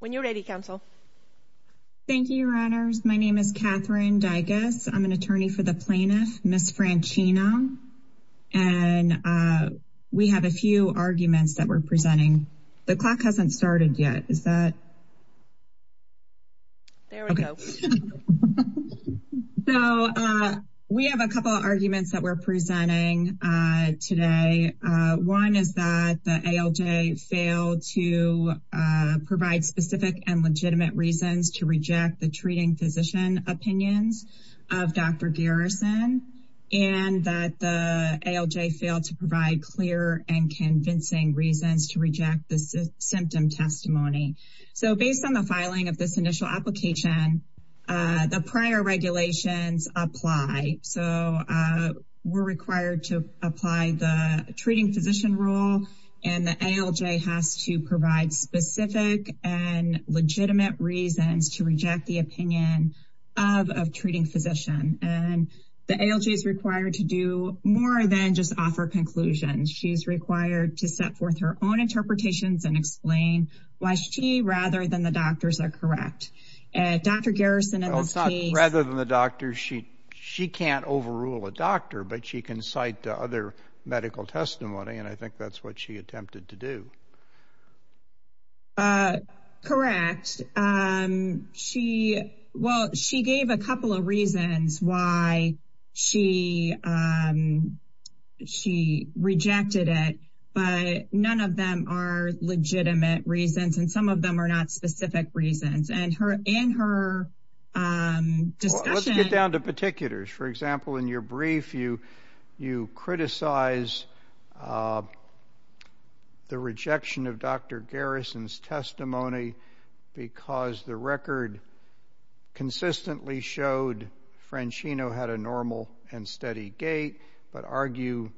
When you're ready, Council. Thank you, Your Honors. My name is Katherine Digas. I'm an attorney for the plaintiff, Ms. Franchino. And we have a few arguments that we're presenting. The clock hasn't started yet. Is that? There we go. So we have a couple of arguments that we're presenting today. One is that the ALJ failed to provide specific and legitimate reasons to reject the treating physician opinions of Dr. Garrison and that the ALJ failed to provide clear and convincing reasons to reject the symptom testimony. So based on the filing of this initial application, the prior regulations apply. So we're required to apply the treating physician rule and the ALJ has to provide specific and legitimate reasons to reject the opinion of a treating physician. And the ALJ is required to do more than just offer conclusions. She's required to set forth her own interpretations and explain why she rather than the doctors are correct. Dr. Garrison, in this case, rather than the doctor, she she can't overrule a doctor, but she can cite other medical testimony. And I think that's what she attempted to do. Correct. She well, she gave a couple of reasons why she she rejected it, but none of them are legitimate reasons and some of them are not specific reasons and her and her. Let's get down to particulars. For example, in your brief, you you criticize the rejection of Dr. Garrison's testimony because the record consistently showed Franchino had a normal and steady gait, but argue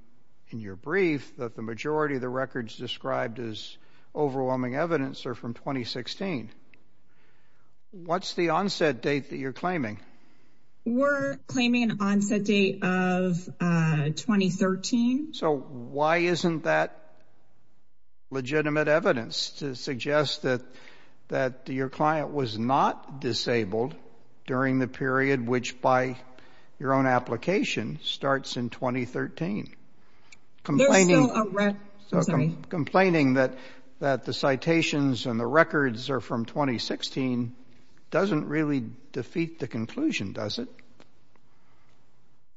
in your brief that the majority of the records described as overwhelming evidence are from 2016. What's the onset date that you're claiming? We're claiming an onset date of 2013. So why isn't that legitimate evidence to suggest that that your client was not disabled during the period which by your own application starts in 2013? Complaining that that the citations and the records are from 2016 doesn't really defeat the conclusion, does it?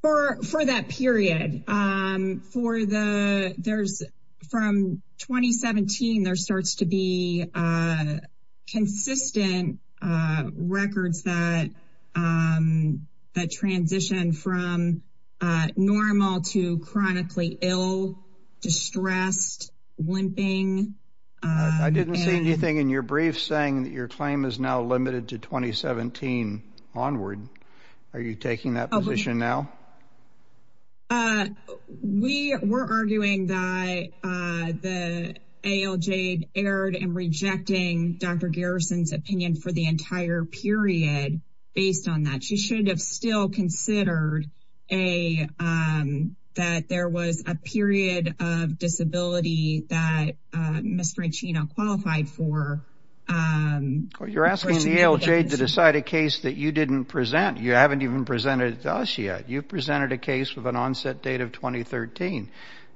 For for that period, for the there's from 2017, there starts to be consistent records that that transition from normal to chronically ill, distressed, limping. I didn't see anything in your brief saying that your claim is now limited to 2017 and rejecting Dr. Garrison's opinion for the entire period. Based on that, she should have still considered a that there was a period of disability that Mr. Franchino qualified for. You're asking the ALJ to decide a case that you didn't present. You haven't even presented to us yet. You presented a case with an onset date of 2013.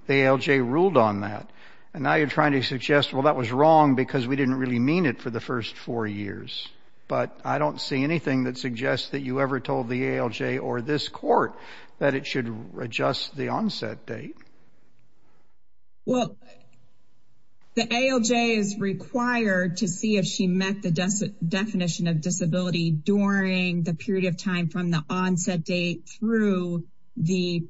The ALJ ruled on that. And now you're trying to suggest, well, that was wrong because we didn't really mean it for the first four years. But I don't see anything that suggests that you ever told the ALJ or this court that it should adjust the onset date. Well, the ALJ is required to see if she met the definition of disability during the period of time from the onset date through the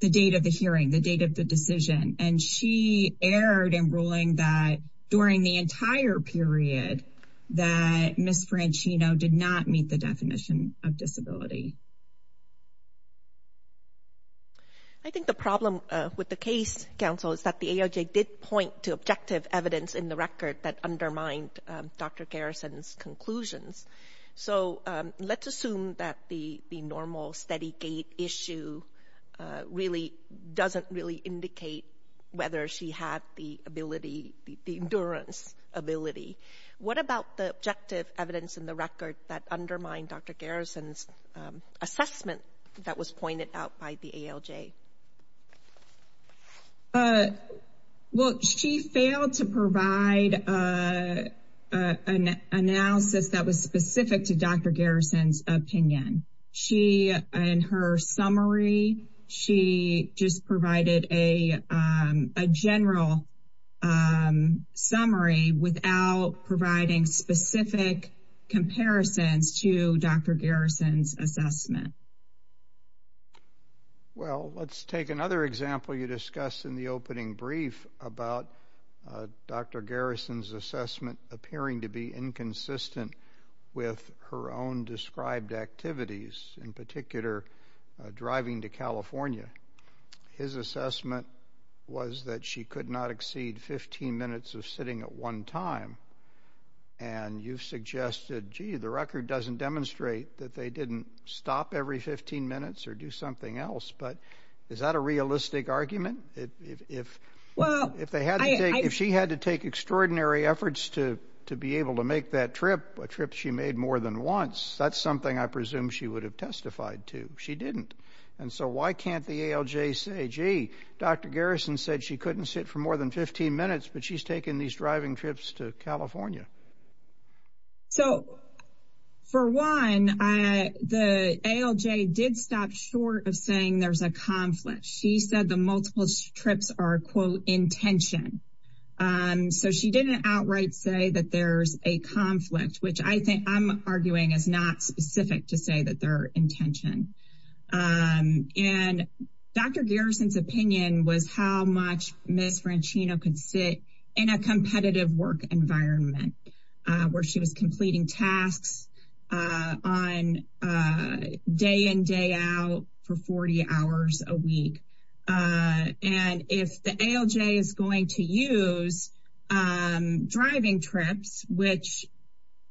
the date of the hearing, the date of the decision. And she erred in ruling that during the entire period that Ms. Franchino did not meet the definition of disability. I think the problem with the case, counsel, is that the ALJ did point to objective evidence in the record that undermined Dr. Garrison's conclusions. So let's assume that the normal steady gate issue really doesn't really indicate whether she had the ability, the endurance ability. What about the objective evidence in the record that undermined Dr. Garrison's assessment that was pointed out by the ALJ? Well, she failed to provide an analysis that was specific to Dr. Garrison's opinion. She, in her summary, she just provided a general summary without providing specific comparisons to Dr. Garrison's assessment. Well, let's take another example you discussed in the opening brief about Dr. Garrison's assessment appearing to be inconsistent with her own described activities, in particular, driving to California. His assessment was that she could not exceed 15 minutes of sitting at one time. And you've suggested, gee, the record doesn't demonstrate that they didn't stop every 15 minutes or do something else. But is that a realistic argument? If she had to take extraordinary efforts to be able to make that trip, a trip she made more than once, that's something I presume she would have testified to. She didn't. And so why can't the ALJ say, gee, Dr. Garrison said she couldn't sit for more than 15 minutes, but she's taking these driving trips to California? So, for one, the ALJ did stop short of saying there's a conflict. She said the multiple trips are, quote, intention. So she didn't outright say that there's a conflict, which I think I'm arguing is not specific to say that they're intention. And Dr. Franchino could sit in a competitive work environment where she was completing tasks on day in, day out for 40 hours a week. And if the ALJ is going to use driving trips, which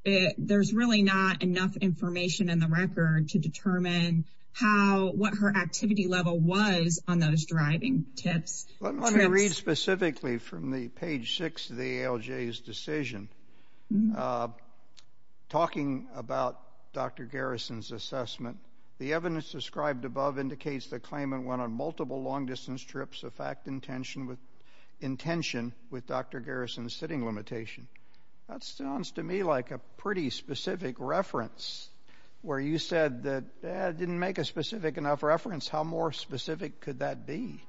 there's really not enough information in the record to determine how what her activity level was on those driving tips. Let me read specifically from the page six of the ALJ's decision. Talking about Dr. Garrison's assessment, the evidence described above indicates the claimant went on multiple long distance trips of fact intention with intention with Dr. Garrison's sitting limitation. That sounds to me like a pretty specific reference, where you said that didn't make a specific enough reference. How more specific could that be?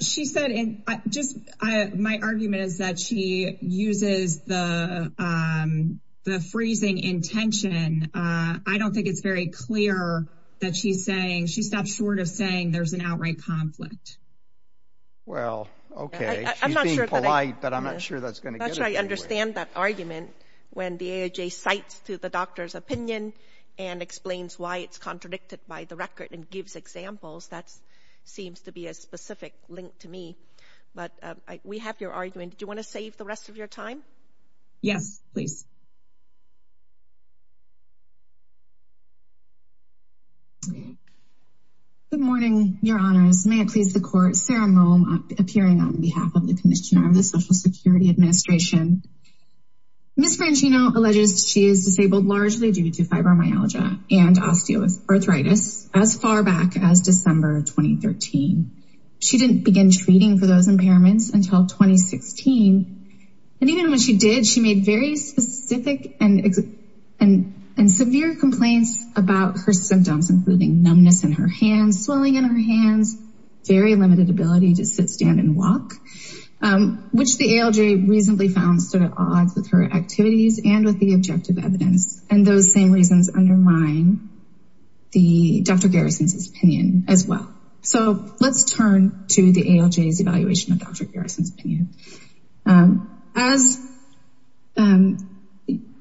She said, and just my argument is that she uses the the freezing intention. I don't think it's very clear that she's saying she stopped short of saying there's an outright conflict. Well, okay. She's being polite, but I'm not sure that's going to get us anywhere. I understand that argument. When the ALJ cites to the doctor's opinion, and explains why it's contradicted by the record and gives examples, that seems to be a specific link to me. But we have your argument. Do you want to save the rest of your time? Yes, please. Good morning, your honors. May it please the court, Sarah Moe, appearing on behalf of the Commissioner of the Social Security Administration. Ms. Franchino alleges she is disabled largely due to fibromyalgia and osteoarthritis as far back as December 2013. She didn't begin treating for those impairments until 2016. And even when she did, she made very specific and explicit statements about and severe complaints about her symptoms, including numbness in her hands, swelling in her hands, very limited ability to sit, stand and walk, which the ALJ reasonably found stood at odds with her activities and with the objective evidence. And those same reasons undermine the Dr. Garrison's opinion as well. So let's turn to the ALJ's evaluation of Dr. Garrison's opinion. As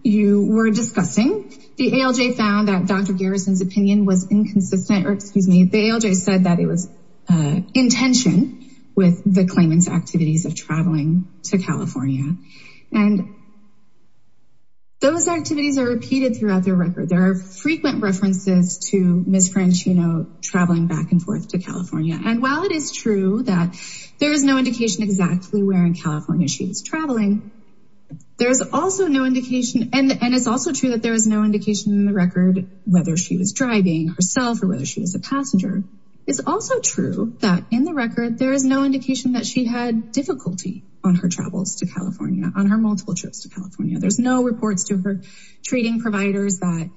you were discussing, the ALJ found that Dr. Garrison's opinion was inconsistent, or excuse me, the ALJ said that it was in tension with the claimant's activities of traveling to California. And those activities are repeated throughout their record. There are frequent references to Ms. And while it is true that there is no indication exactly where in California she was traveling, there is also no indication and it's also true that there is no indication in the record whether she was driving herself or whether she was a passenger. It's also true that in the record, there is no indication that she had difficulty on her travels to California, on her multiple trips to California. There's no reports to her treating providers that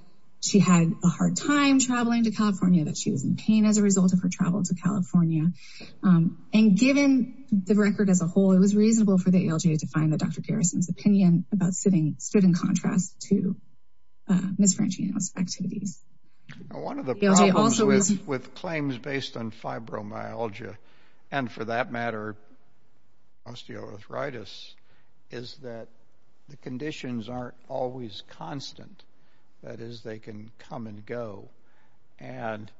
she had a hard time traveling to California, that she was in pain as a result of her travel to California. And given the record as a whole, it was reasonable for the ALJ to find that Dr. Garrison's opinion about sitting stood in contrast to Ms. Franchino's activities. One of the problems with claims based on fibromyalgia, and for that matter, osteoarthritis, is that the conditions aren't always constant. That is, they can come and go. And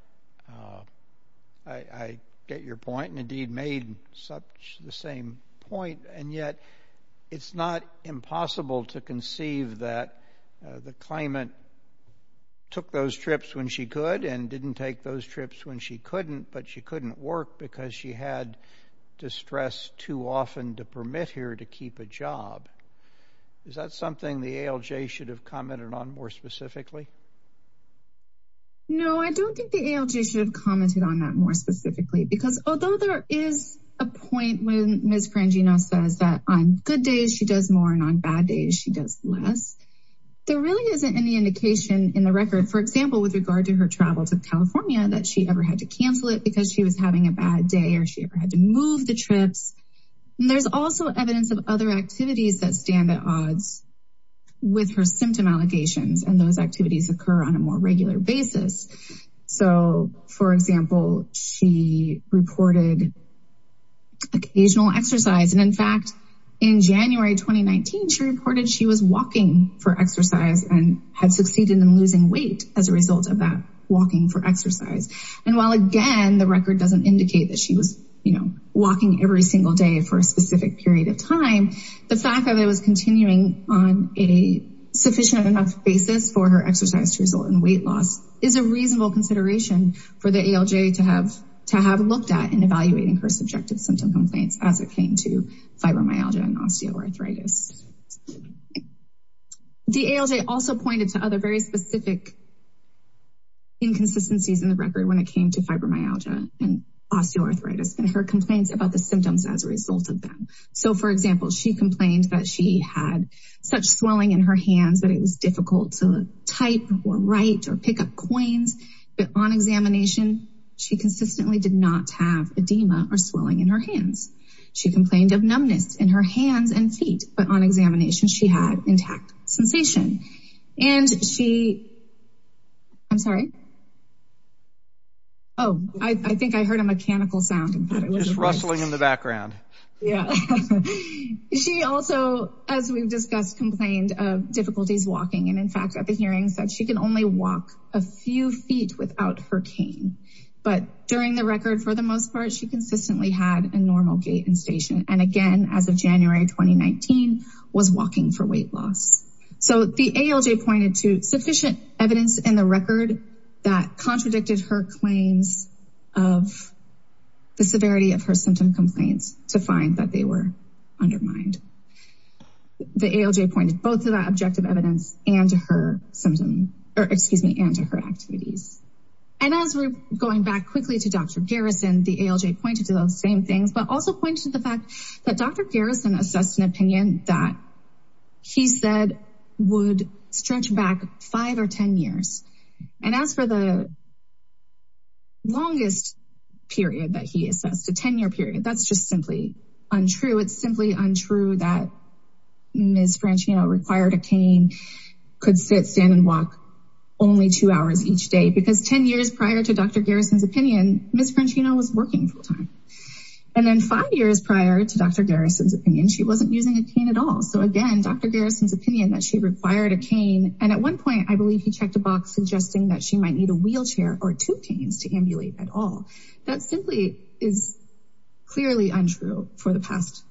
I get your point, and indeed made the same point, and yet it's not impossible to conceive that the claimant took those trips when she could and didn't take those trips when she couldn't, but she couldn't work because she had distress too often to permit her to keep a job. Is that something the ALJ should have commented on more specifically? No, I don't think the ALJ should have commented on that more specifically, because although there is a point when Ms. Franchino says that on good days, she does more, and on bad days, she does less, there really isn't any indication in the record, for example, with regard to her travel to California, that she ever had to cancel it because she was having a bad day or she ever had to move the trips. There's also evidence of other activities that stand at odds with her symptom allegations, and those activities occur on a more regular basis. So, for example, she reported occasional exercise, and in fact, in January 2019, she reported she was walking for exercise and had succeeded in losing weight as a result of that walking for exercise. And while, again, the record doesn't indicate that she was, you know, walking every single day for a specific period of time, the fact that it was continuing on a sufficient enough basis for her exercise to result in weight loss is a reasonable consideration for the ALJ to have looked at in evaluating her subjective symptom complaints as it came to fibromyalgia and osteoarthritis. The ALJ also pointed to other very specific inconsistencies in the record when it came to fibromyalgia and osteoarthritis and her complaints about the symptoms as a result of them. So, for example, she complained that she had such swelling in her hands that it was difficult to type or write or pick up coins, but on examination, she consistently did not have edema or swelling in her hands. She complained of numbness in her hands and feet, but on examination, she had intact sensation. And she, I'm sorry. Oh, I think I heard a mechanical sound. It was rustling in the background. She also, as we've discussed, complained of difficulties walking, and in fact, at the hearing said she can only walk a few feet without her cane. But during the record, for the most part, she consistently had a normal gait and station. And again, as of January 2019, was walking for weight loss. So the ALJ pointed to sufficient evidence in the record that contradicted her claims of the severity of her symptom complaints to find that they were undermined. The ALJ pointed both to that objective evidence and to her symptom, or excuse me, and to her activities. And as we're going back quickly to Dr. Garrison, the ALJ pointed to those same things, but also pointed to the fact that Dr. Garrison assessed an opinion that he said would stretch back five or 10 years. And as for the longest period that he assessed, a 10-year period, that's just simply untrue. It's simply untrue that Ms. Franchino required a cane, could sit, stand, and walk only two hours each day. Because 10 years prior to Dr. Garrison's opinion, Ms. Franchino was working full-time. And then five years prior to Dr. Garrison's opinion, she wasn't using a cane at all. So again, Dr. Garrison's opinion that she required a cane. And at one point, I believe he checked a box suggesting that she might need a wheelchair or two canes to ambulate at all. That simply is clearly untrue for the past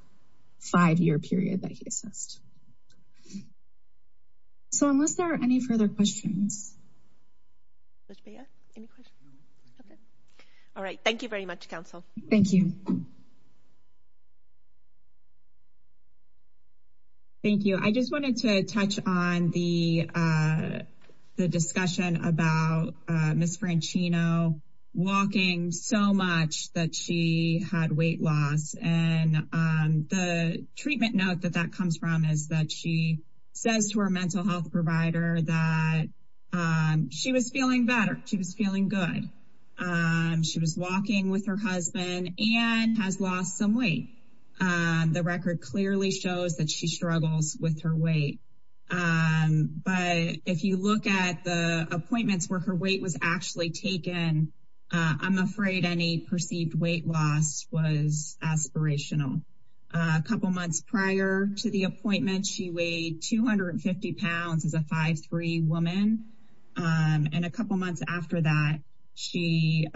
five-year period that he assessed. So, unless there are any further questions. All right, thank you very much, Council. Thank you. Thank you. I just wanted to touch on the discussion about Ms. Franchino walking so much that she had weight loss. And the treatment note that that comes from is that she says to her mental health provider that she was feeling better. She was feeling good. She was walking with her husband. And has lost some weight. The record clearly shows that she struggles with her weight. But if you look at the appointments where her weight was actually taken, I'm afraid any perceived weight loss was aspirational. A couple months prior to the appointment, she weighed 250 pounds as a 5'3 woman. And a couple months after that, she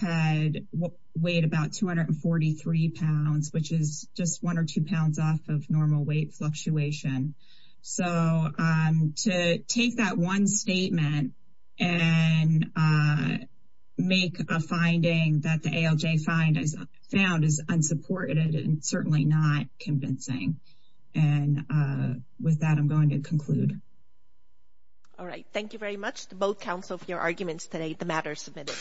had weighed about 243 pounds, which is just one or two pounds off of normal weight fluctuation. So, to take that one statement and make a finding that the ALJ found is unsupported and certainly not convincing. And with that, I'm going to conclude. All right. Thank you very much to both Council for your arguments today. The matter is submitted.